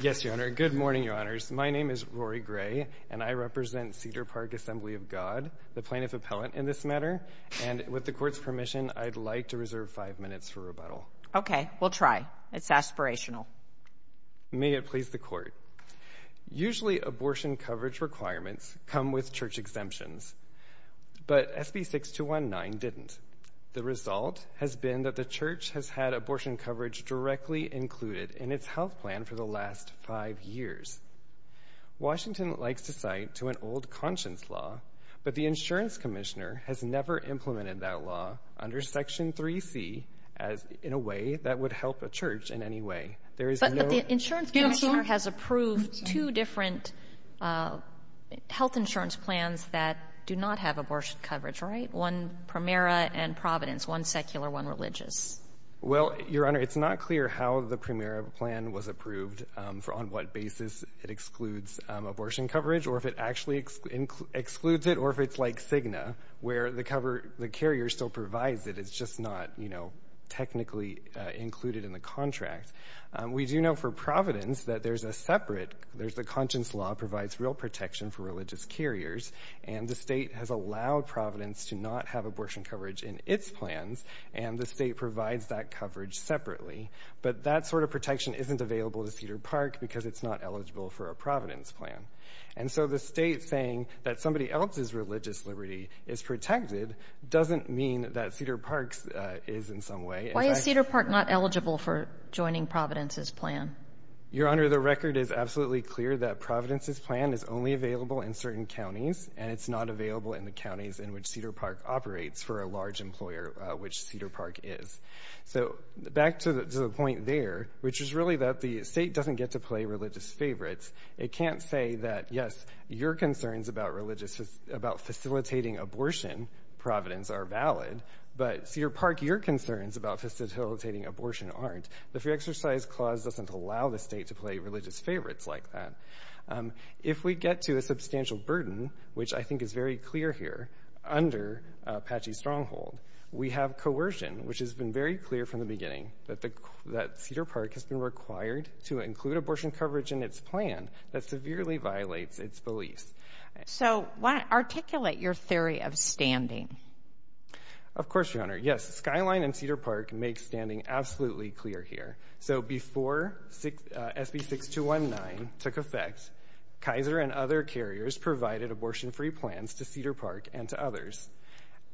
Yes, Your Honor. Good morning, Your Honors. My name is Rory Gray, and I represent Cedar Park Assembly of God, the plaintiff appellant in this matter, and with the Court's permission, I'd like to reserve five minutes for rebuttal. Okay. We'll try. It's aspirational. May it please the Court. Usually, abortion coverage requirements come with Church exemptions, but SB 6219 didn't. The result has been that the Church has had abortion coverage directly included in its health plan for the last five years. Washington likes to cite to an old conscience law, but the insurance commissioner has never implemented that law under Section 3C in a way that would help a Church in any way. There is no— But the insurance commissioner has approved two different health insurance plans that do not have abortion coverage, right? One Primera and Providence, one secular, one religious. Well, Your Honor, it's not clear how the Primera plan was approved, on what basis it excludes abortion coverage, or if it actually excludes it, or if it's like Cigna, where the carrier still provides it. It's just not technically included in the contract. We do know for Providence that there's a separate—the conscience law provides real protection for religious carriers, and the state has allowed Providence to not have abortion coverage in its plans, and the state provides that coverage separately. But that sort of protection isn't available to Cedar Park because it's not eligible for a Providence plan. And so the state saying that somebody else's religious liberty is protected doesn't mean that Cedar Park's is in some way— Why is Cedar Park not eligible for joining Providence's plan? Your Honor, the record is absolutely clear that Providence's plan is only available in certain counties, and it's not available in the counties in which Cedar Park operates for a large employer, which Cedar Park is. So back to the point there, which is really that the state doesn't get to play religious favorites. It can't say that, yes, your concerns about facilitating abortion, Providence, are valid, but Cedar Park, your concerns about facilitating abortion aren't. The Free Exercise Clause doesn't allow the state to play religious favorites like that. If we get to a substantial burden, which I think is very clear here, under Apache Stronghold, we have coercion, which has been very clear from the beginning that Cedar Park has been required to include abortion coverage in its plan that severely violates its beliefs. So articulate your theory of standing. Of course, your Honor. Yes, Skyline and Cedar Park make standing absolutely clear here. So before SB 6219 took effect, Kaiser and other carriers provided abortion-free plans to Cedar Park and to others.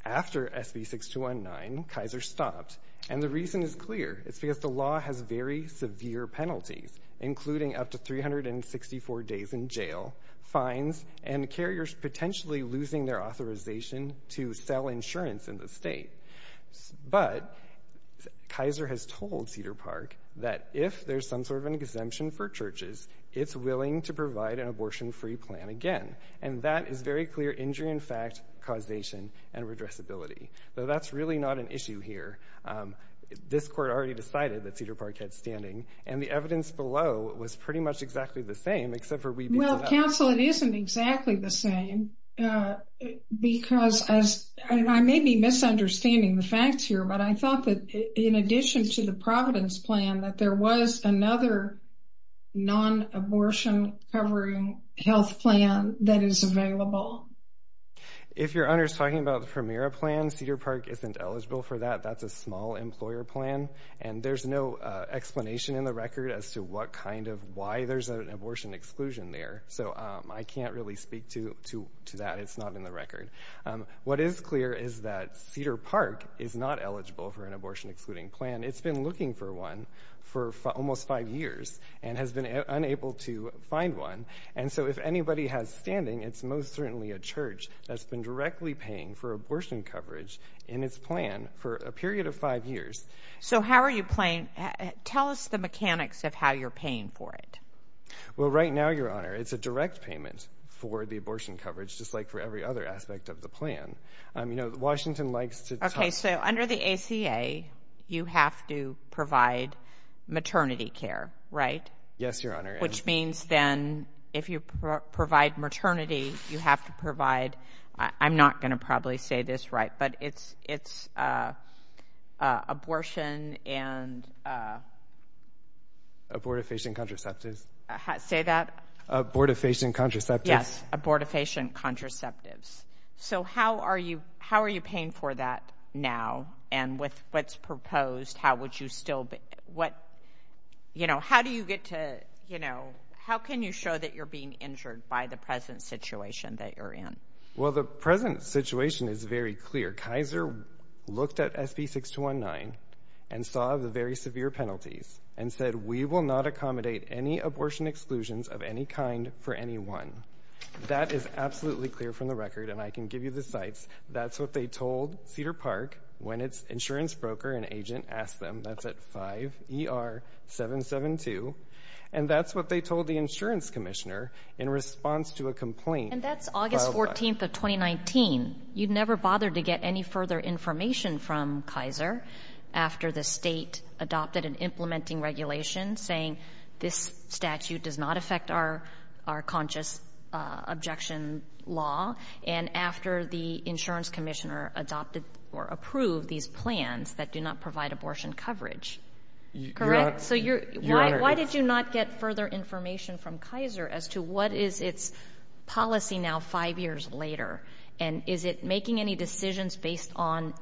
After SB 6219, Kaiser stopped, and the reason is clear. It's because the law has very severe penalties, including up to 364 days in jail, fines, and carriers potentially losing their authorization to sell insurance in the state. But Kaiser has told Cedar Park that if there's some sort of an exemption for churches, it's willing to provide an abortion-free plan again. And that is very clear injury in fact, causation, and redressability. Though that's really not an issue here. This Court already decided that Cedar Park had standing, and the evidence below was pretty much exactly the same, except for we— Well, counsel, it isn't exactly the same, because as—and I may be misunderstanding the facts here, but I thought that in addition to the Providence Plan, that there was another non-abortion-covering health plan that is available. If your Honor's talking about the Premier Plan, Cedar Park isn't eligible for that. That's a small employer plan, and there's no explanation in the record as to what kind of—why there's an abortion exclusion there. So I can't really speak to that. It's not in the record. What is clear is that Cedar Park is not eligible for an abortion-excluding plan. It's been looking for one for almost five years, and has been unable to find one. And so if anybody has standing, it's most certainly a church that's been directly paying for abortion coverage in its plan for a period of five years. So how are you paying—tell us the mechanics of how you're paying for it. Well, right now, Your Honor, it's a direct payment for the abortion coverage, just like for every other aspect of the plan. You know, Washington likes to talk— Okay, so under the ACA, you have to provide maternity care, right? Yes, Your Honor. Which means then, if you provide maternity, you have to provide—I'm not going to probably say this right, but it's abortion and— Abortifacient contraceptives. Say that? Abortifacient contraceptives. Yes, abortifacient contraceptives. So how are you paying for that? Now, and with what's proposed, how would you still—you know, how do you get to, you know, how can you show that you're being injured by the present situation that you're in? Well, the present situation is very clear. Kaiser looked at SB 619 and saw the very severe penalties and said, we will not accommodate any abortion exclusions of any kind for anyone. That is absolutely clear from the record, and I can give you the cites. That's what they told Cedar Park when its insurance broker and agent asked them. That's at 5ER-772. And that's what they told the insurance commissioner in response to a complaint. And that's August 14th of 2019. You never bothered to get any further information from Kaiser after the state adopted an implementing regulation saying this statute does not affect our conscious objection law, and after the insurance commissioner adopted or approved these plans that do not provide abortion coverage, correct? So why did you not get further information from Kaiser as to what is its policy now five years later, and is it making any decisions based on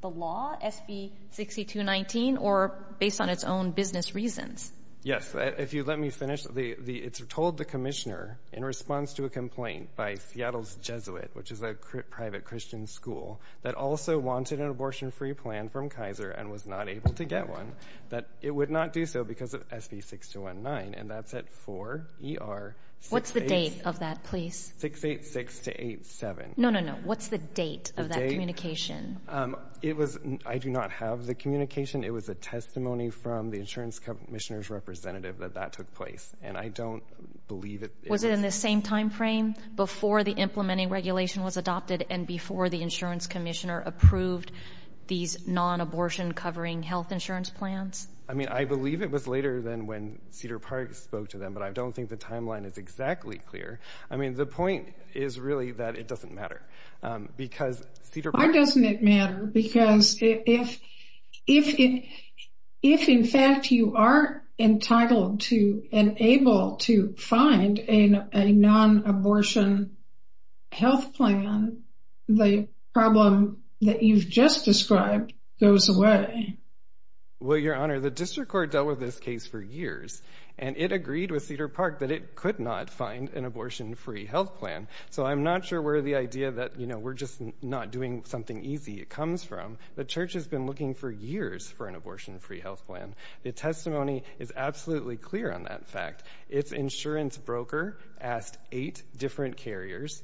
the law, SB 6219, or based on its own business reasons? Yes. If you let me finish, it's told the commissioner in response to a complaint by Seattle's Jesuit, which is a private Christian school that also wanted an abortion-free plan from Kaiser and was not able to get one, that it would not do so because of SB 619, and that's at 4ER- What's the date of that, please? 686-87. No, no, no. What's the date of that communication? It was, I do not have the communication. It was a testimony from the insurance commissioner representative that that took place, and I don't believe it- Was it in the same timeframe before the implementing regulation was adopted and before the insurance commissioner approved these non-abortion covering health insurance plans? I mean, I believe it was later than when Cedar Park spoke to them, but I don't think the timeline is exactly clear. I mean, the point is really that it doesn't matter because Cedar- If, in fact, you are entitled to and able to find a non-abortion health plan, the problem that you've just described goes away. Well, Your Honor, the district court dealt with this case for years, and it agreed with Cedar Park that it could not find an abortion-free health plan. So I'm not sure where the idea that we're just not doing something easy comes from. The church has been looking for years for an abortion-free health plan. The testimony is absolutely clear on that fact. Its insurance broker asked eight different carriers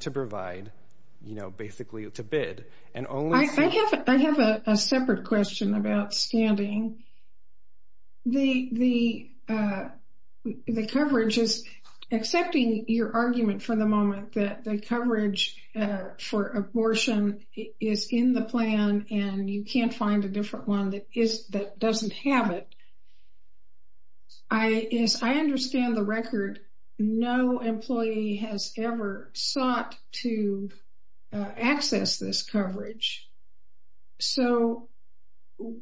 to provide, you know, basically to bid. And only- I have a separate question about standing. The coverage is, accepting your argument for the moment that the coverage for abortion is in the plan and you can't find a different one that doesn't have it. I understand the record. No employee has ever sought to access this coverage. So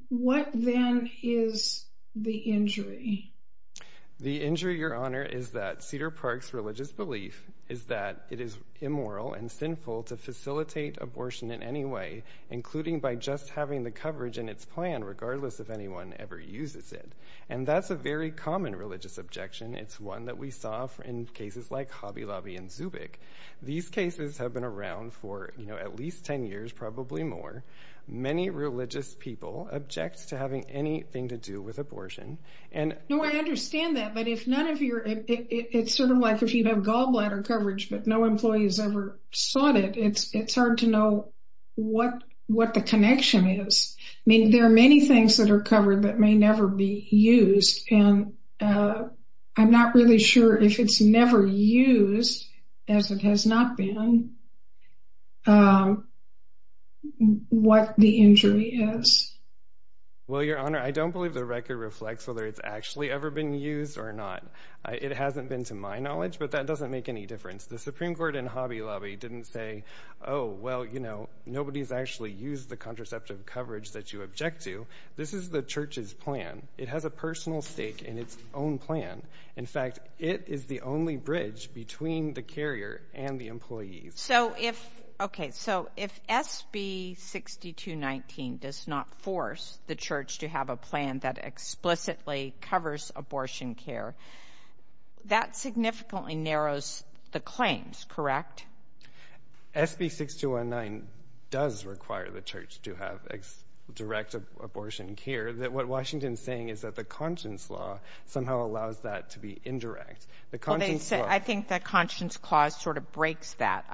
what then is the injury? The injury, Your Honor, is that Cedar Park's religious belief is that it is immoral and sinful to facilitate abortion in any way, including by just having the coverage in its plan, regardless if anyone ever uses it. And that's a very common religious objection. It's one that we saw in cases like Hobby Lobby and Zubik. These cases have been around for, you know, at least 10 years, probably more. Many religious people object to having anything to do with abortion. No, I understand that. But if none of your- it's sort of like if you have gallbladder coverage but no employee has ever sought it, it's hard to know what the connection is. I mean, there are many things that are covered that may never be used. And I'm not really sure if it's never used, as it has not been, what the injury is. Well, Your Honor, I don't believe the record reflects whether it's actually ever been used or not. It hasn't been to my knowledge, but that doesn't make any difference. The Supreme Court in Hobby Lobby didn't say, oh, well, you know, nobody's actually used the contraceptive coverage that you object to. This is the church's plan. It has a personal stake in its own plan. In fact, it is the only bridge between the carrier and the employee. So if- okay, so if SB 6219 does not force the church to have a plan that explicitly covers abortion care, that significantly narrows the claims, correct? SB 6219 does require the church to have direct abortion care. What Washington's saying is that the Conscience Law somehow allows that to be indirect. The Conscience Law- I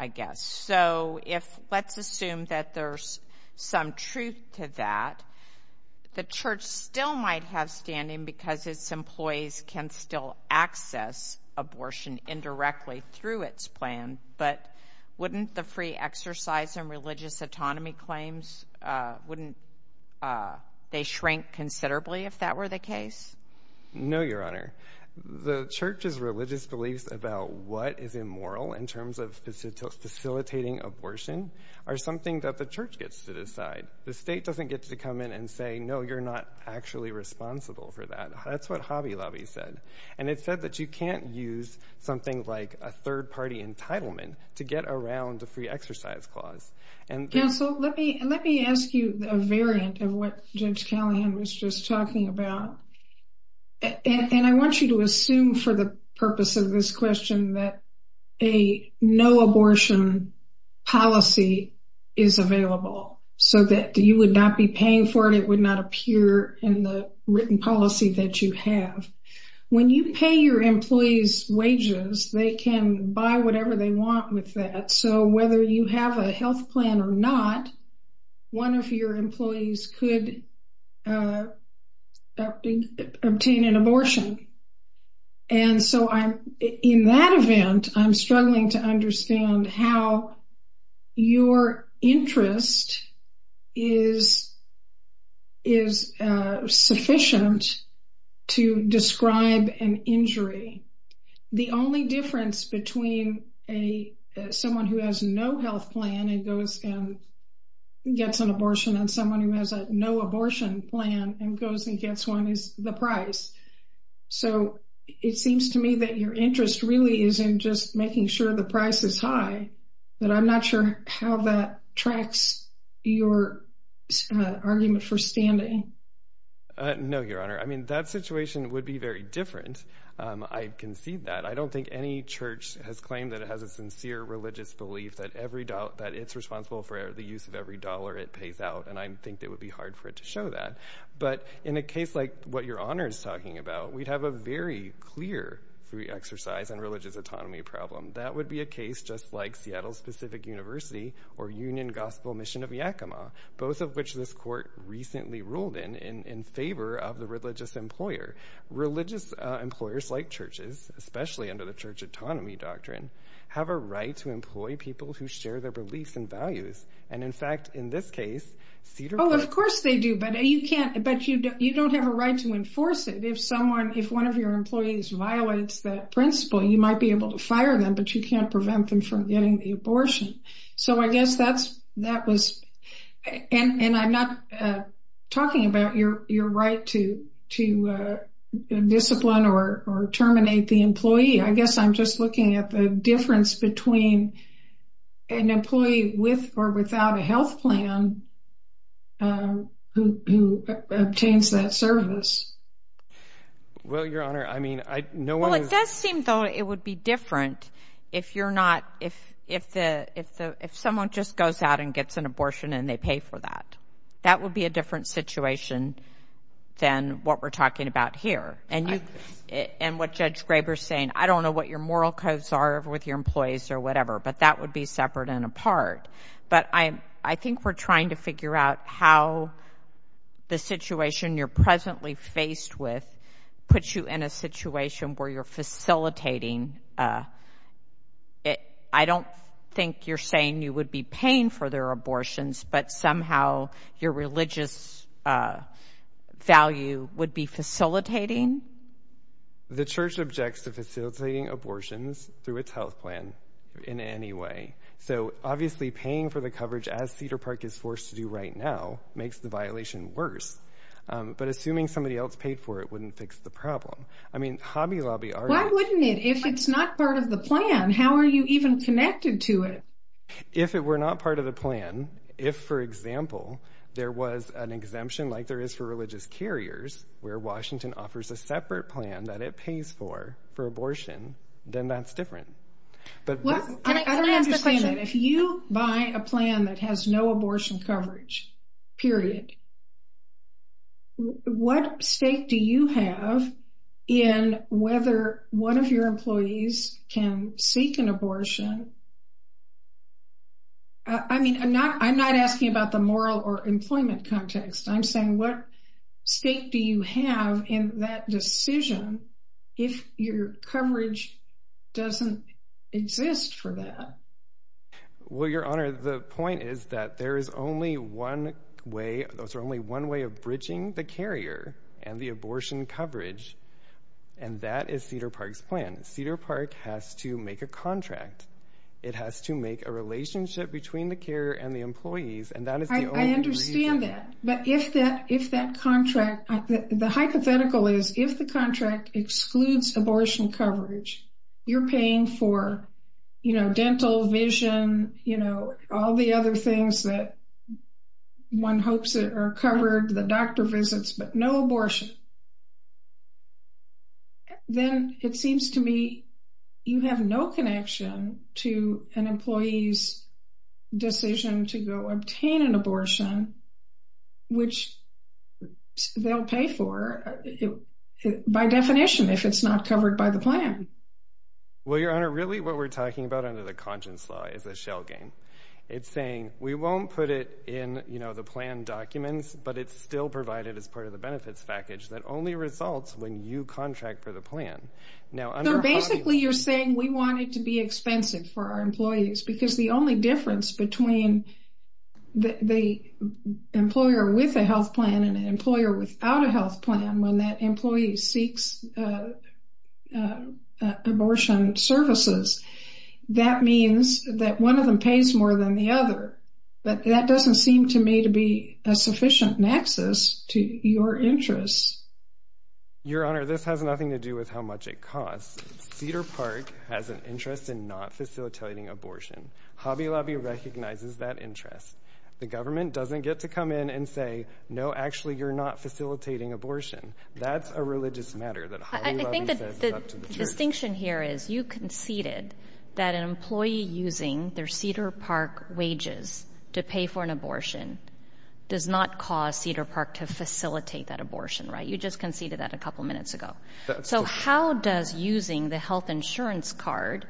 guess. So if- let's assume that there's some truth to that. The church still might have standing because its employees can still access abortion indirectly through its plan, but wouldn't the free exercise and religious autonomy claims- wouldn't they shrink considerably if that were the case? No, Your Honor. The church's religious beliefs about what is immoral in terms of facilitating abortion are something that the church gets to decide. The state doesn't get to come in and say, no, you're not actually responsible for that. That's what Hobby Lobby said. And it said that you can't use something like a third party entitlement to get around the free exercise clause. Counsel, let me ask you a variant of what Judge Callahan was just talking about. And I want you to assume for the purpose of this question that a no abortion policy is available so that you would not be paying for it, it would not appear in the written policy that you have. When you pay your employees wages, they can buy whatever they want with that. So whether you have a health plan or not, one of your employees could obtain an abortion. And so in that event, I'm struggling to understand how your interest is sufficient to describe an injury. The only difference between someone who has no health plan and goes and gets an abortion and someone who has no abortion plan and goes and gets one is the price. So it seems to me that your interest really is in just making sure the price is high, but I'm not sure how that tracks your argument for standing. No, Your Honor. I mean, that situation would be very different. I can see that. I don't think any church has claimed that it has a sincere religious belief that every dollar that it's responsible for the use of every dollar it pays out. And I think that would be hard for it to show that. But in a case like what Your Honor is talking about, we'd have a very clear free exercise and religious autonomy problem. That would be a case just like Seattle's Pacific University or Union Gospel Mission of Yakima, both of which this court recently ruled in, in favor of the religious employer. Religious employers like churches, especially under the church autonomy doctrine, have a right to employ people who share their beliefs and values. And in fact, in this case, Cedar Rapids... Oh, of course they do. But you don't have a right to enforce it. If one of your employees violates that principle, you might be able to fire them, but you can't prevent them from getting the abortion. So I guess that was... And I'm not talking about your right to discipline or terminate the employee. I guess I'm just looking at the difference between an employee with or without a health plan who obtains that service. Well, Your Honor, I mean, no one... Well, it does seem, though, it would be different if you're not, if someone just goes out and gets an abortion and they pay for that. That would be a different situation than what we're talking about here. And what Judge Graber's saying, I don't know what your moral codes are with your employees or whatever, but that would be separate and apart. But I think we're trying to figure out how the situation you're presently faced with puts you in a situation where you're facilitating. I don't think you're saying you would be paying for their abortions, but somehow your religious value would be facilitating. The church objects to facilitating abortions through its health plan in any way. So obviously paying for the coverage, as Cedar Park is forced to do right now, makes the violation worse. But assuming somebody else paid for it wouldn't fix the problem. I mean, Hobby Lobby... Why wouldn't it? If it's not part of the plan, how are you even connected to it? If it were not part of the plan, if, for example, there was an exemption like there is for religious carriers, where Washington offers a separate plan that it pays for, for abortion, then that's different. I don't understand it. If you buy a plan that has no abortion coverage, period, what stake do you have in whether one of your employees can seek an abortion? I mean, I'm not asking about the moral or employment context. I'm saying what stake do you have in that decision if your coverage doesn't exist for that? Well, Your Honor, the point is that there is only one way, there's only one way of bridging the carrier and the abortion coverage, and that is Cedar Park's plan. Cedar Park has to make a contract. It has to make a relationship between the carrier and the employees, and that is the only way... I understand that, but if that contract, the hypothetical is if the contract excludes abortion coverage, you're paying for dental, vision, all the other things that one hopes are covered, the doctor visits, but no abortion, then it seems to me you have no connection to an employee's decision to go obtain an abortion, which they'll pay for by definition if it's not covered by the plan. Well, Your Honor, really what we're talking about under the Conscience Law is a shell game. It's saying we won't put it in the plan documents, but it's still provided as part of the benefits package that only results when you contract for the plan. Now, under Basically, you're saying we want it to be expensive for our employees because the only difference between the employer with a health plan and an employer without a health plan when that employee seeks abortion services, that means that one of them pays more than the other, but that doesn't seem to me to be a sufficient nexus to your interests. Your Honor, this has nothing to do with how much it costs. Cedar Park has an interest in not facilitating abortion. Hobby Lobby recognizes that interest. The government doesn't get to come in and say, no, actually, you're not facilitating abortion. That's a religious matter that Hobby Lobby says is up to the jury. I think the distinction here is you conceded that an employee using their Cedar Park wages to pay for an abortion does not cause Cedar Park to facilitate that abortion, right? You just conceded that a couple minutes ago. So how does using the health insurance card,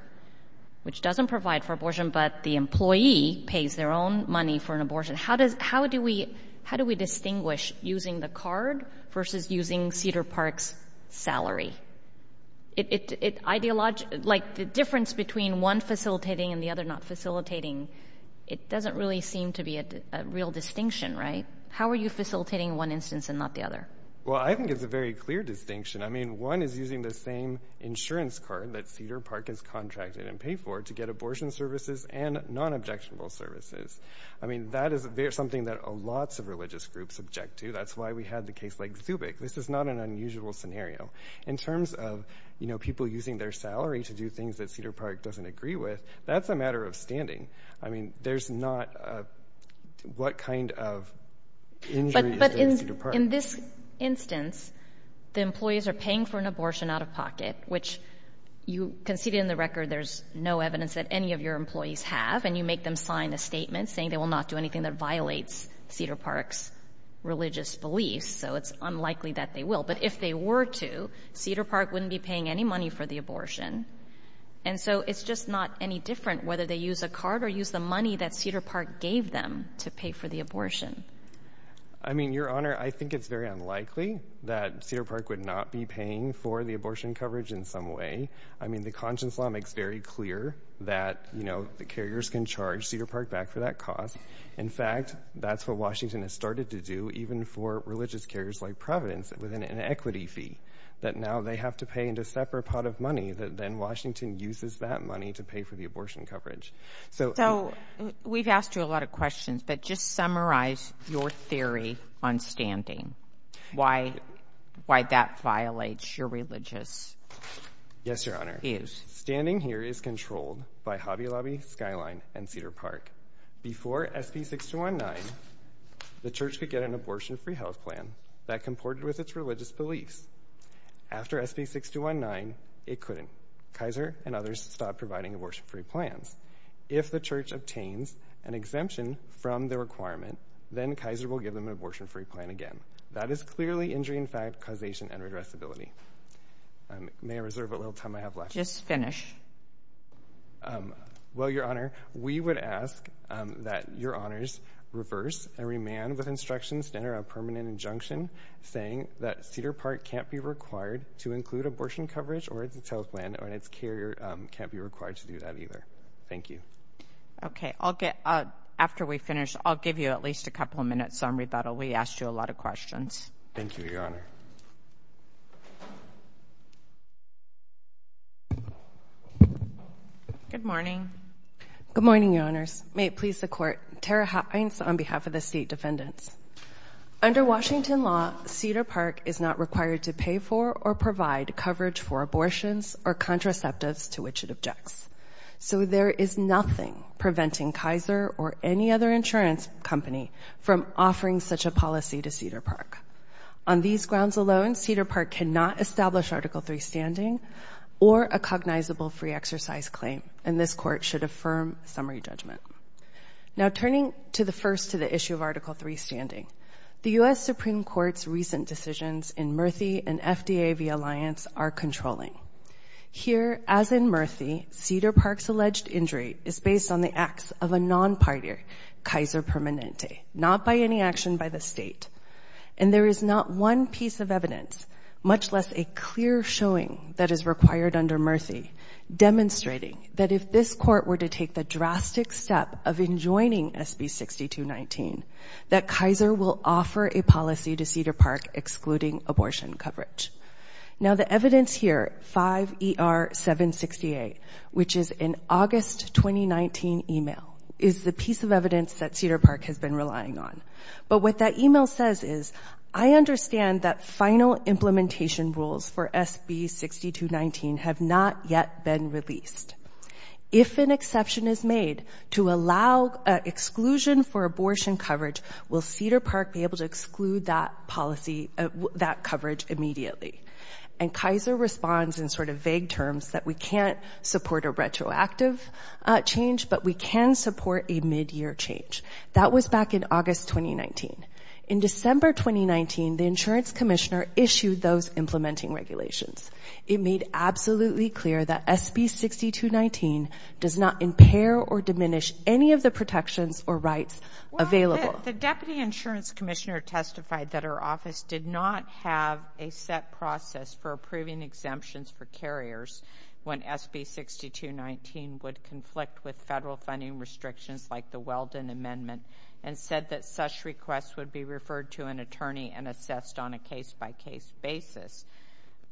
which doesn't provide for abortion, but the employee pays their own money for an abortion, how do we distinguish using the card versus using Cedar Park's salary? The difference between one facilitating and the other not facilitating, it doesn't really seem to be a real distinction, right? How are you facilitating one instance and not the other? Well, I think it's a very clear distinction. I mean, one is using the same insurance card that Cedar Park has contracted and paid for to get abortion services and non-objectionable services. I mean, that is something that lots of religious groups object to. That's why we had the case like Zubik. This is not an unusual scenario. In terms of people using their salary to do things that Cedar Park doesn't agree with, that's a matter of standing. I mean, there's not a what kind of injury is there in Cedar Park. But in this instance, the employees are paying for an abortion out of pocket, which you conceded in the record there's no evidence that any of your employees have, and you make them sign a statement saying they will not do anything that violates Cedar Park's religious beliefs, so it's unlikely that they will. But if they were to, Cedar Park wouldn't be paying any money for the abortion. And so it's just not any different whether they use a card or use the money that Cedar Park gave them to pay for the abortion. I mean, Your Honor, I think it's very unlikely that Cedar Park would not be paying for the abortion coverage in some way. I mean, the Conscience Law makes very clear that, you know, the carriers can charge Cedar Park back for that cost. In fact, that's what Washington has started to do even for religious carriers like Providence with an inequity fee that now they have to pay in a separate pot of money that then Washington uses that money to pay for the abortion coverage. So we've asked you a lot of questions, but just summarize your theory on standing. Why that violates your religious views. Yes, Your Honor. Standing here is controlled by Hobby Lobby, Skyline, and Cedar Park. Before SB 6219, the church could get an abortion-free health plan that comported with its religious beliefs. After SB 6219, it couldn't. Kaiser and others stopped providing abortion-free plans. If the church obtains an exemption from the requirement, then Kaiser will give them an abortion-free plan again. That is clearly injury in fact, causation, and regressibility. May I reserve a little time I have left? Just finish. Well, Your Honor, we would ask that Your Honors reverse and remand with instructions to enter a permanent injunction saying that Cedar Park can't be required to include abortion coverage or its health plan, or its carrier can't be required to do that either. Thank you. Okay. After we finish, I'll give you at least a couple of minutes on rebuttal. We asked you a lot of questions. Thank you, Your Honor. Good morning. Good morning, Your Honors. May it please the Court, Tara Heinz on behalf of the State Defendants. Under Washington law, Cedar Park is not required to pay for or provide coverage for abortions or contraceptives to which it objects. So there is nothing preventing Kaiser or any other insurance company from offering such a policy to Cedar Park. On these grounds alone, Cedar Park cannot establish Article III standing or a cognizable free exercise claim, and this Court should affirm summary judgment. Now turning to the first to the issue of Article III standing, the U.S. Supreme Court's recent decisions in Murthy and FDA v. Alliance are controlling. Here, as in Murthy, Cedar Park's alleged injury is based on the acts of a non-partier, Kaiser Permanente, not by any action by the State. And there is not one piece of evidence, much less a clear showing that is required under Murthy, demonstrating that if this Court were to take the drastic step of enjoining SB 6219, that Kaiser will offer a policy to Cedar Park excluding abortion coverage. Now the evidence here, 5ER768, which is an August 2019 email, is the piece of evidence that Cedar Park has been relying on. But what that email says is, I understand that final implementation rules for SB 6219 have not yet been released. If an exception is made to allow exclusion for abortion coverage, will Cedar Park be able to exclude that policy, that coverage immediately? And Kaiser responds in sort of vague terms that we can't support a retroactive change, but we can support a midyear change. That was back in August 2019. In December 2019, the Insurance Commissioner issued those implementing regulations. It made absolutely clear that SB 6219 does not impair or diminish any of the protections or rights available. Well, the Deputy Insurance Commissioner testified that her office did not have a set process for approving exemptions for carriers when SB 6219 would conflict with federal funding restrictions like the Weldon Amendment, and said that such requests would be referred to an attorney and assessed on a case-by-case basis.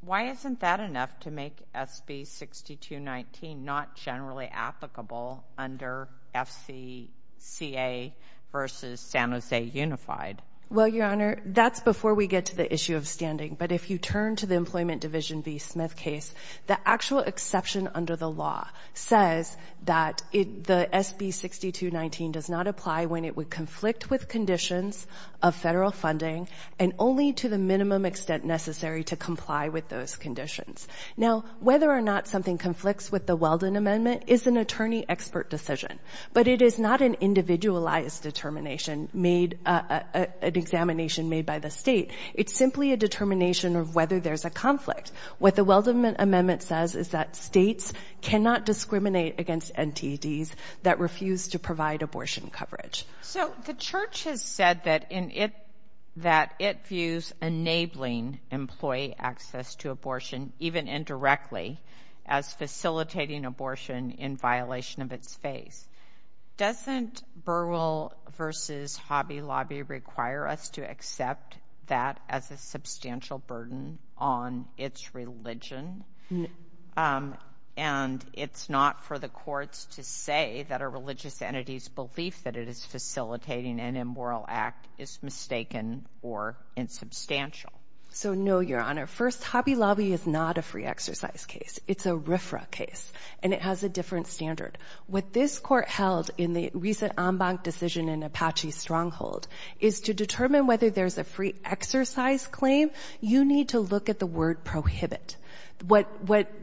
Why isn't that enough to make SB 6219 not generally applicable under FCCA versus San Jose Unified? Well, Your Honor, that's before we get to the issue of standing. But if you turn to the Employment Division v. Smith case, the actual exception under the law says that the SB 6219 does not apply when it would conflict with conditions of federal funding, and only to the minimum extent necessary to comply with those conditions. Now, whether or not something conflicts with the Weldon Amendment is an attorney-expert decision. But it is not an individualized determination made, an examination made by the state. It's simply a determination of whether there's a conflict. What the Weldon Amendment says is that states cannot discriminate against NTDs that refuse to provide abortion coverage. So the Church has said that it views enabling employee access to abortion, even indirectly, as facilitating abortion in violation of its face. Doesn't Burwell v. Hobby Lobby require us to accept that as a substantial burden on its religion? And it's not for the courts to say that a religious entity's belief that it is facilitating an immoral act is mistaken or insubstantial? So no, Your Honor. First, Hobby Lobby is not a free exercise case. It's a RFRA case. And it has a different standard. What this Court held in the recent en banc decision in Apache Stronghold is to determine whether there's a free exercise claim, you need to look at the word prohibit. What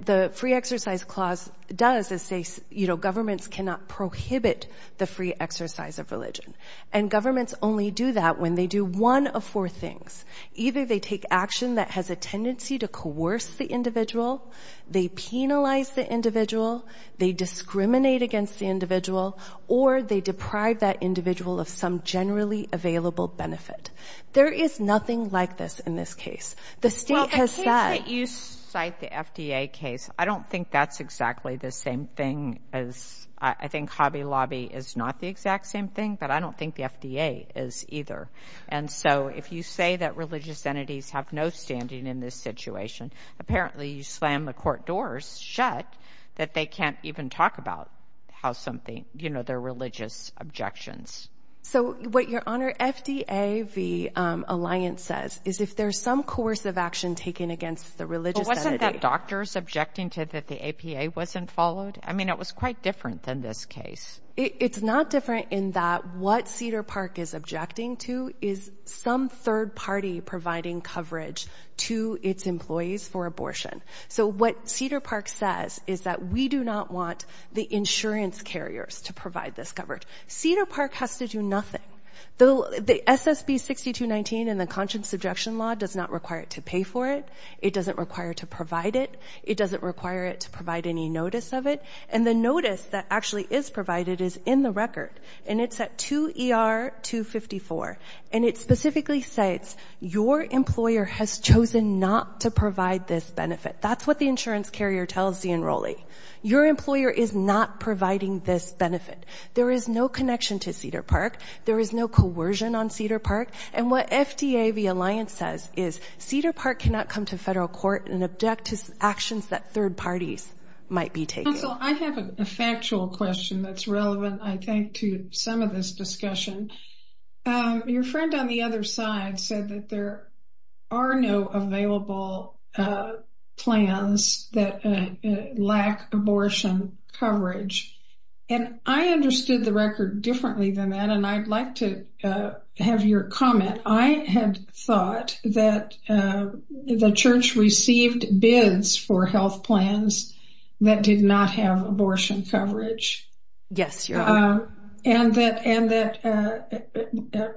the free exercise clause does is say, you know, governments cannot prohibit the free exercise of religion. And governments only do that when they do one of four things. Either they take action that has a tendency to coerce the individual, they penalize the individual, they discriminate against the individual, or they deprive that individual of some generally available benefit. There is nothing like this in this case. The State has said- Well, the case that you cite, the FDA case, I don't think that's exactly the same thing as, I think Hobby Lobby is not the exact same thing, but I don't think the FDA is either. And so if you say that religious entities have no standing in this situation, apparently you slam the court doors shut that they can't even talk about how something, you know, their religious objections. So what, Your Honor, FDA v. Alliance says is if there's some coercive action taken against the religious entity- But wasn't that doctors objecting to that the APA wasn't followed? I mean, it was quite different than this case. It's not different in that what Cedar Park is objecting to is some third party providing coverage to its employees for abortion. So what Cedar Park says is that we do not want the insurance carriers to provide this coverage. Cedar Park has to do nothing. The SSB 6219 and the Conscience Objection Law does not require it to pay for it. It doesn't require to provide it. It doesn't require it to provide any notice of it. And the notice that actually is provided is in the record. And it's at 2 ER 254. And it specifically states your employer has chosen not to provide this benefit. That's what the insurance carrier tells the employee. Your employer is not providing this benefit. There is no connection to Cedar Park. There is no coercion on Cedar Park. And what FDA v. Alliance says is Cedar Park cannot come to federal court and object to actions that third parties might be taking. Counsel, I have a factual question that's relevant, I think, to some of this discussion. Your friend on the other side said that there are no available plans that lack abortion coverage. And I understood the record differently than that. And I'd like to have your comment. I had thought that the church received bids for health plans that did not have abortion coverage. Yes, your honor. And that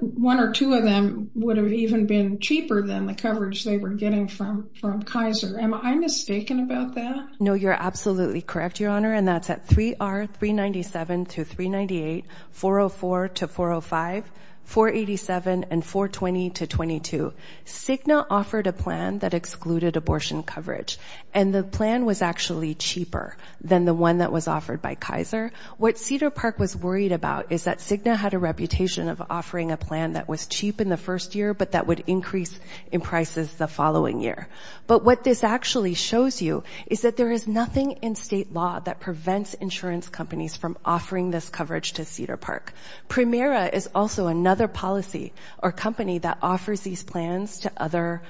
one or two of them would have even been cheaper than the coverage they were getting from Kaiser. Am I mistaken about that? No, you're absolutely correct, your honor. And that's at 3R 397-398, 404-405, 487, and 420-22. Cigna offered a plan that excluded abortion coverage. And the plan was actually cheaper than the one that was offered by Kaiser. What Cedar Park was worried about is that Cigna had a reputation of offering a plan that was cheap in the first year, but that would increase in prices the following year. But what this actually shows you is that there is nothing in state law that prevents insurance companies from offering this coverage to Cedar Park. Primera is also another policy or company that offers these plans to other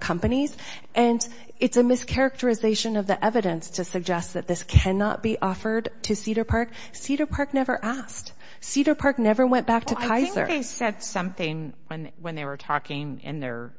companies. And it's a mischaracterization of the evidence to suggest that this cannot be offered to Cedar Park. Cedar Park never asked. Cedar Park never went back to Kaiser. Well, I think they said something when they were talking in their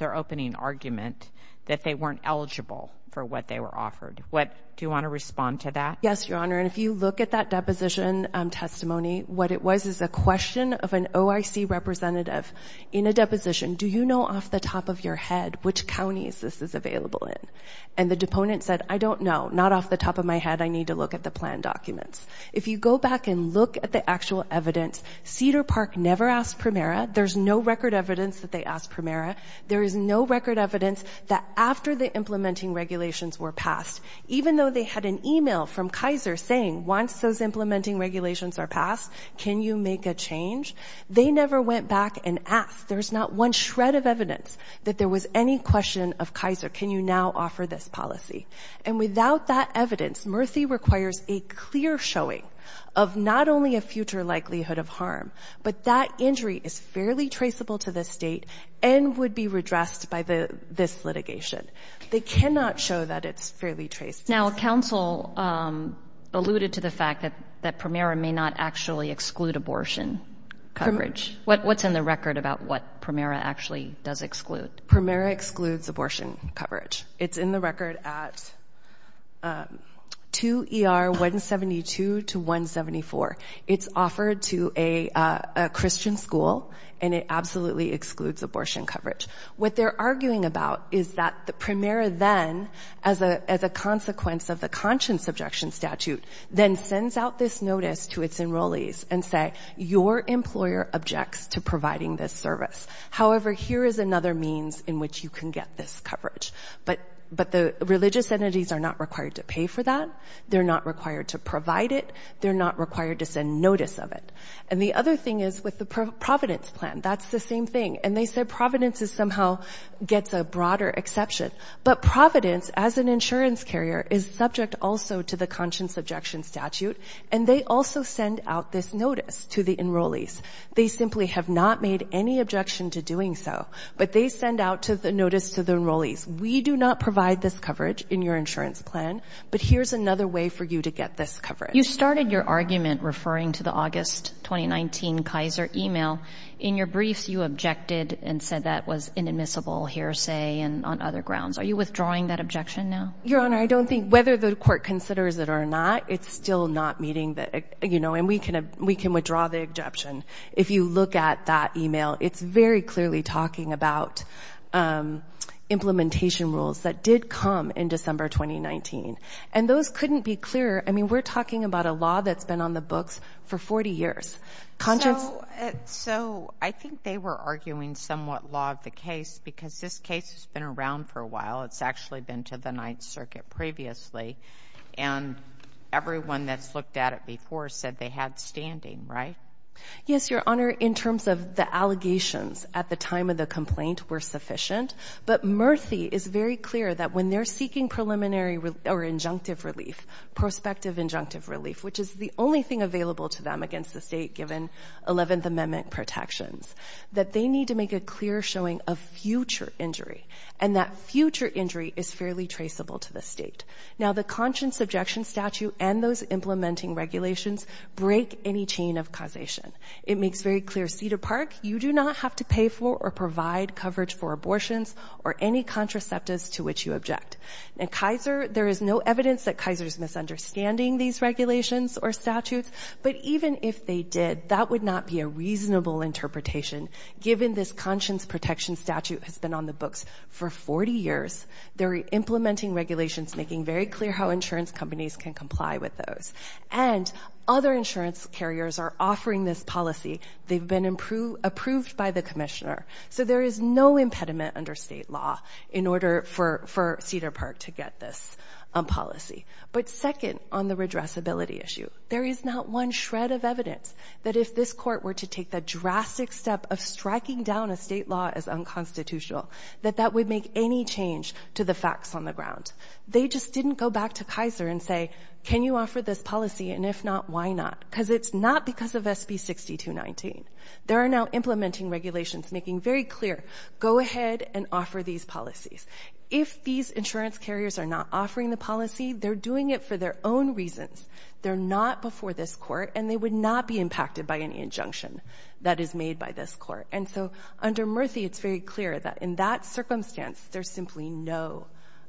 opening argument that they weren't eligible for what they were offered. Do you want to respond to that? Yes, your honor. And if you look at that deposition testimony, what it was is a question of an OIC representative in a deposition. Do you know off the top of your head which counties this is available in? And the deponent said, I don't know. Not off the top of my head. I need to look at the plan documents. If you go back and look at the actual evidence, Cedar Park never asked Primera. There's no record evidence that they asked Primera. There is no record evidence that after the implementing regulations were passed, even though they had an email from Kaiser saying, once those implementing regulations are passed, can you make a change? They never went back and asked. There's not one shred of evidence that there was any question of Kaiser. Can you now offer this policy? And without that evidence, Murthy requires a clear showing of not only a future likelihood of harm, but that injury is fairly traceable to the state and would be redressed by this litigation. They cannot show that it's fairly traceable. Now counsel alluded to the fact that Primera may not actually exclude abortion coverage. What's in the record about what Primera actually does exclude? Primera excludes abortion coverage. It's in the record at 2 ER 172 to 174. It's offered to a Christian school and it absolutely excludes abortion coverage. What they're arguing about is that the Primera then, as a consequence of the conscience objection statute, then sends out this notice to its enrollees and say, your employer objects to providing this service. However, here is another means in which you can get this coverage. But the religious entities are not required to pay for that. They're not required to provide it. They're not required to send notice of it. And the other thing is with the Providence plan, that's the same thing. And they said Providence is somehow gets a broader exception. But Providence as an insurance carrier is subject also to the conscience objection statute. And they also send out this notice to the enrollees. They simply have not made any objection to doing so. But they send out to the notice to the enrollees. We do not provide this coverage in your insurance plan. But here's another way for you to get this coverage. You started your argument referring to the August 2019 Kaiser email. In your briefs, you objected and said that was inadmissible hearsay and on other grounds. Are you withdrawing that objection now? Your Honor, I don't think whether the court considers it or not, it's still not meeting the, you know, and we can we can withdraw the objection. If you look at that email, it's very clearly talking about implementation rules that did come in December 2019. And those couldn't be clearer. I mean, we're talking about a law that's been on the books for 40 years. So I think they were arguing somewhat law of the case because this case has been around for a while. It's actually been to the Ninth Circuit previously. And everyone that's looked at it before said they had standing, right? Yes, Your Honor. In terms of the allegations at the time of the complaint were sufficient. But Murthy is very clear that when they're seeking preliminary or injunctive relief, prospective injunctive relief, which is the only thing available to them against the state given 11th Amendment protections, that they need to make a clear showing of future injury and that future injury is fairly traceable to the state. Now, the conscience objection statute and those implementing regulations break any chain of causation. It makes very clear, Cedar Park, you do not have to pay for or provide coverage for abortions or any contraceptives to which you object. At Kaiser, there is no evidence that Kaiser is misunderstanding these regulations or statutes. But even if they did, that would not be a reasonable interpretation given this conscience protection statute has been on the books for 40 years. They're implementing regulations making very clear how insurance companies can comply with those. And other insurance carriers are offering this policy. They've been approved by the commissioner. So there is no impediment under state law in order for Cedar Park to get this policy. But second, on the redressability issue, there is not one shred of evidence that if this court were to take the drastic step of striking down a state law as unconstitutional, that that would make any change to the facts on the ground. They just didn't go back to Kaiser and say, can you offer this policy? And if not, why not? Because it's not because of SB 6219. There are now implementing regulations making very clear, go ahead and offer these policies. If these insurance carriers are not offering the policy, they're doing it for their own reasons. They're not before this court and they would not be impacted by any injunction that is made by this court. And so under Murthy, it's very clear that in that circumstance, there's simply no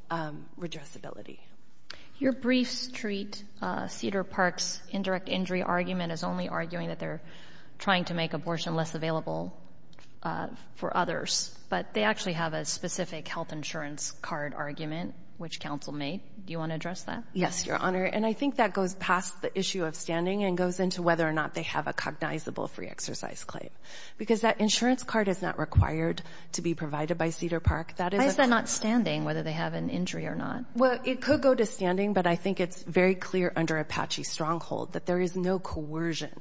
redressability. Your briefs treat Cedar Park's indirect injury argument as only arguing that they're trying to make abortion less available for others, but they actually have a specific health insurance card argument, which counsel made. Do you want to address that? Yes, Your Honor. And I think that goes past the issue of standing and goes into whether or not they have a cognizable free exercise claim. Because that insurance card is not required to be provided by Cedar Park. Why is that not standing, whether they have an injury or not? Well, it could go to standing, but I think it's very clear under Apache Stronghold that there is no coercion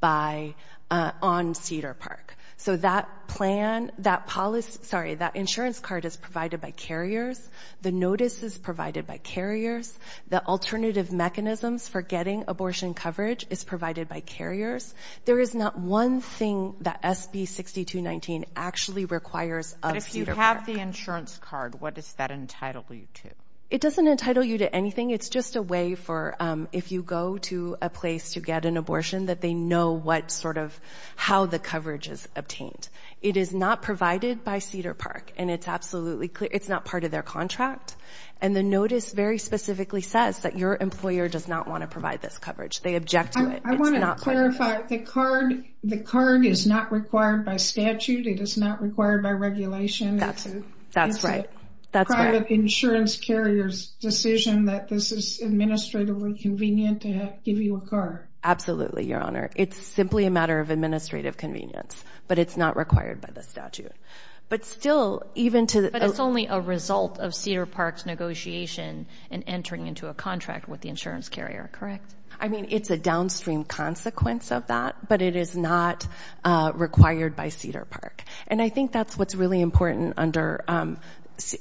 by, on Cedar Park. So that plan, that policy, sorry, that insurance card is provided by carriers. The notice is provided by carriers. The alternative mechanisms for getting abortion coverage is provided by carriers. There is not one thing that SB 6219 actually requires of Cedar Park. But if you have the insurance card, what does that entitle you to? It doesn't entitle you to anything. It's just a way for, if you go to a place to get an abortion, that they know what sort of, how the coverage is obtained. It is not provided by Cedar Park, and it's absolutely, it's not part of their contract. And the notice very specifically says that your employer does not want to provide this coverage. They object to it. It's not part of it. I want to clarify, the card, the card is not required by statute. It is not required by regulation. That's, that's right. That's right. It's the private insurance carrier's decision that this is administratively convenient to give you a card. Absolutely, Your Honor. It's simply a matter of administrative convenience, but it's not required by the statute. But still, even to the- into a contract with the insurance carrier, correct? I mean, it's a downstream consequence of that, but it is not required by Cedar Park. And I think that's what's really important under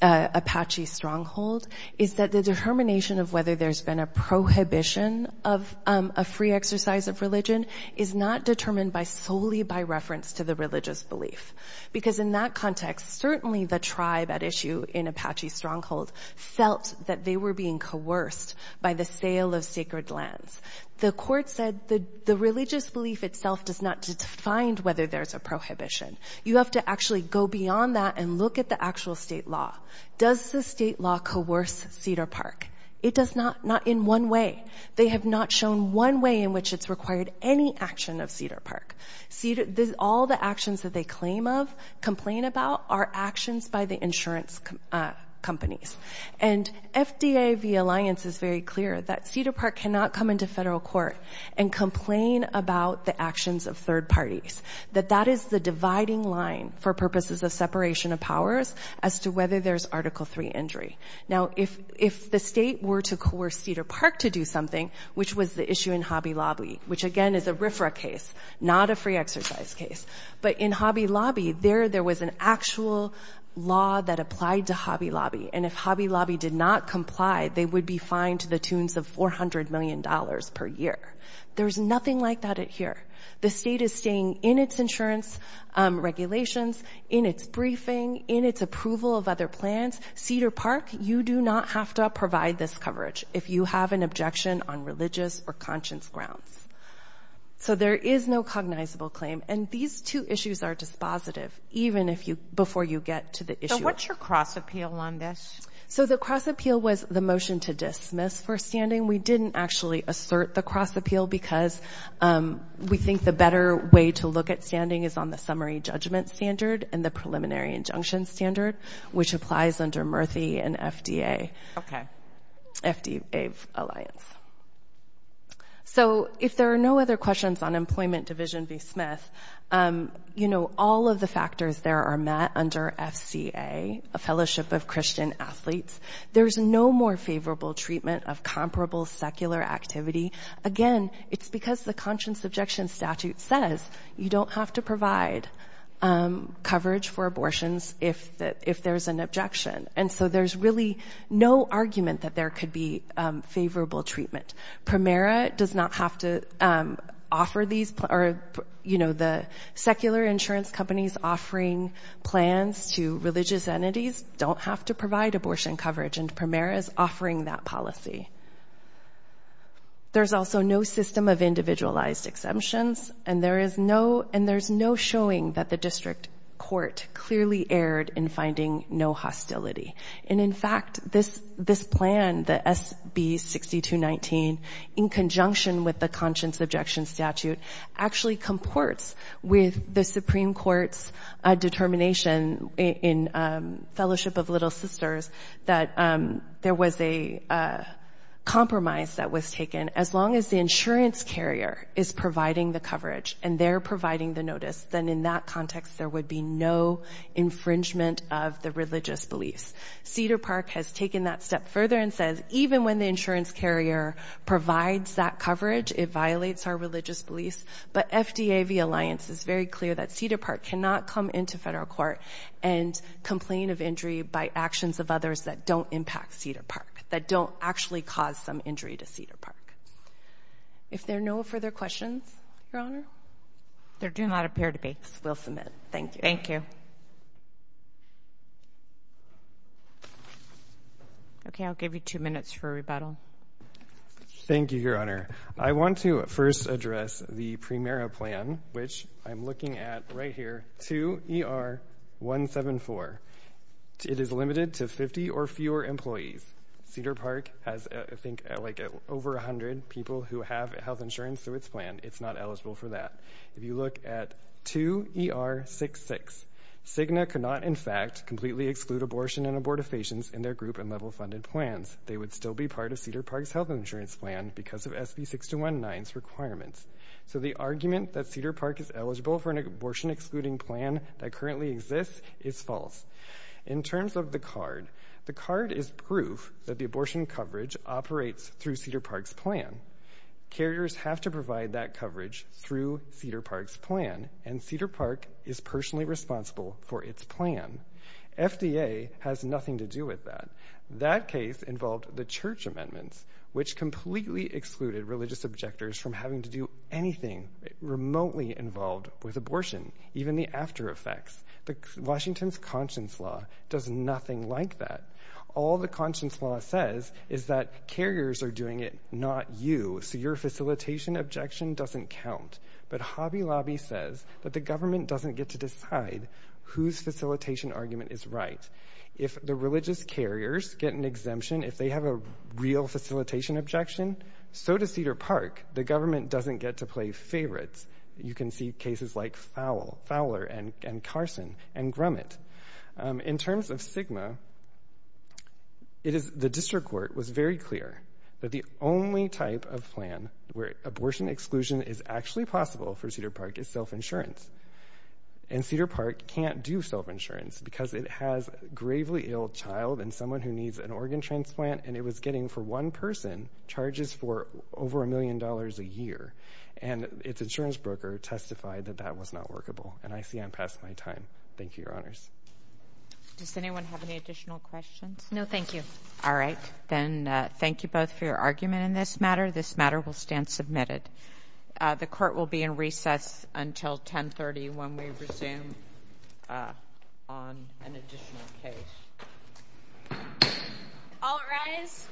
Apache Stronghold, is that the determination of whether there's been a prohibition of a free exercise of religion is not determined by solely by reference to the religious belief. Because in that context, certainly the tribe at issue in Apache Stronghold felt that they were being coerced by the sale of sacred lands. The court said the religious belief itself does not define whether there's a prohibition. You have to actually go beyond that and look at the actual state law. Does the state law coerce Cedar Park? It does not, not in one way. They have not shown one way in which it's required any action of Cedar Park. All the actions that they claim of, complain about, are actions by the insurance companies. And FDA v. Alliance is very clear that Cedar Park cannot come into federal court and complain about the actions of third parties. That that is the dividing line for purposes of separation of powers as to whether there's Article III injury. Now if the state were to coerce Cedar Park to do something, which was the issue in Hobby Lobby, not a free exercise case, but in Hobby Lobby, there was an actual law that applied to Hobby Lobby. And if Hobby Lobby did not comply, they would be fined to the tunes of $400 million per year. There's nothing like that here. The state is staying in its insurance regulations, in its briefing, in its approval of other plans. Cedar Park, you do not have to provide this coverage if you have an objection on religious or conscience grounds. So there is no cognizable claim. And these two issues are dispositive, even if you, before you get to the issue. So what's your cross-appeal on this? So the cross-appeal was the motion to dismiss for standing. We didn't actually assert the cross-appeal because we think the better way to look at standing is on the summary judgment standard and the preliminary injunction standard, which applies under Murthy and FDA v. Alliance. So, if there are no other questions on Employment Division v. Smith, you know, all of the factors there are met under FCA, a fellowship of Christian athletes. There's no more favorable treatment of comparable secular activity. Again, it's because the conscience objection statute says you don't have to provide coverage for abortions if there's an objection. And so there's really no argument that there could be favorable treatment. Primera does not have to offer these, or, you know, the secular insurance companies offering plans to religious entities don't have to provide abortion coverage, and Primera is offering that policy. There's also no system of individualized exemptions, and there is no showing that the district court clearly erred in finding no hostility. And, in fact, this plan, the SB 6219, in conjunction with the conscience objection statute, actually comports with the Supreme Court's determination in Fellowship of Little Sisters that there was a compromise that was taken. As long as the insurance carrier is providing the coverage and they're providing the notice, then in that context there would be no infringement of the religious beliefs. Cedar Park has taken that step further and says even when the insurance carrier provides that coverage, it violates our religious beliefs. But FDA, the alliance, is very clear that Cedar Park cannot come into federal court and complain of injury by actions of others that don't impact Cedar Park, that don't actually cause some injury to Cedar Park. If there are no further questions, Your Honor? There do not appear to be. We'll submit. Thank you. Thank you. Okay, I'll give you two minutes for rebuttal. Thank you, Your Honor. I want to first address the Primera plan, which I'm looking at right here, to ER 174. It is limited to 50 or fewer employees. Cedar Park has, I think, like over 100 people who have health insurance through its plan. It's not eligible for that. If you look at 2 ER 66, Cigna could not, in fact, completely exclude abortion and abortifacients in their group and level funded plans. They would still be part of Cedar Park's health insurance plan because of SB 6219's requirements. So the argument that Cedar Park is eligible for an abortion excluding plan that currently exists is false. In terms of the card, the card is proof that the abortion coverage operates through Cedar Park's plan. Carriers have to provide that coverage through Cedar Park's plan, and Cedar Park is personally responsible for its plan. FDA has nothing to do with that. That case involved the church amendments, which completely excluded religious objectors from having to do anything remotely involved with abortion, even the after effects. Washington's conscience law does nothing like that. All the conscience law says is that carriers are doing it, not you, so your facilitation objection doesn't count. But Hobby Lobby says that the government doesn't get to decide whose facilitation argument is right. If the religious carriers get an exemption, if they have a real facilitation objection, so does Cedar Park. The government doesn't get to play favorites. You can see cases like Fowler and Carson and Grumet. In terms of SGMA, the district court was very clear that the only type of plan where abortion exclusion is actually possible for Cedar Park is self-insurance. And Cedar Park can't do self-insurance because it has a gravely ill child and someone who needs an organ transplant, and it was getting for one person charges for over a million dollars a year. And its insurance broker testified that that was not workable. And I see I'm past my time. Thank you, Your Honors. Does anyone have any additional questions? No, thank you. All right. Then thank you both for your argument in this matter. This matter will stand submitted. The court will be in recess until 10.30 when we resume on an additional case. All rise.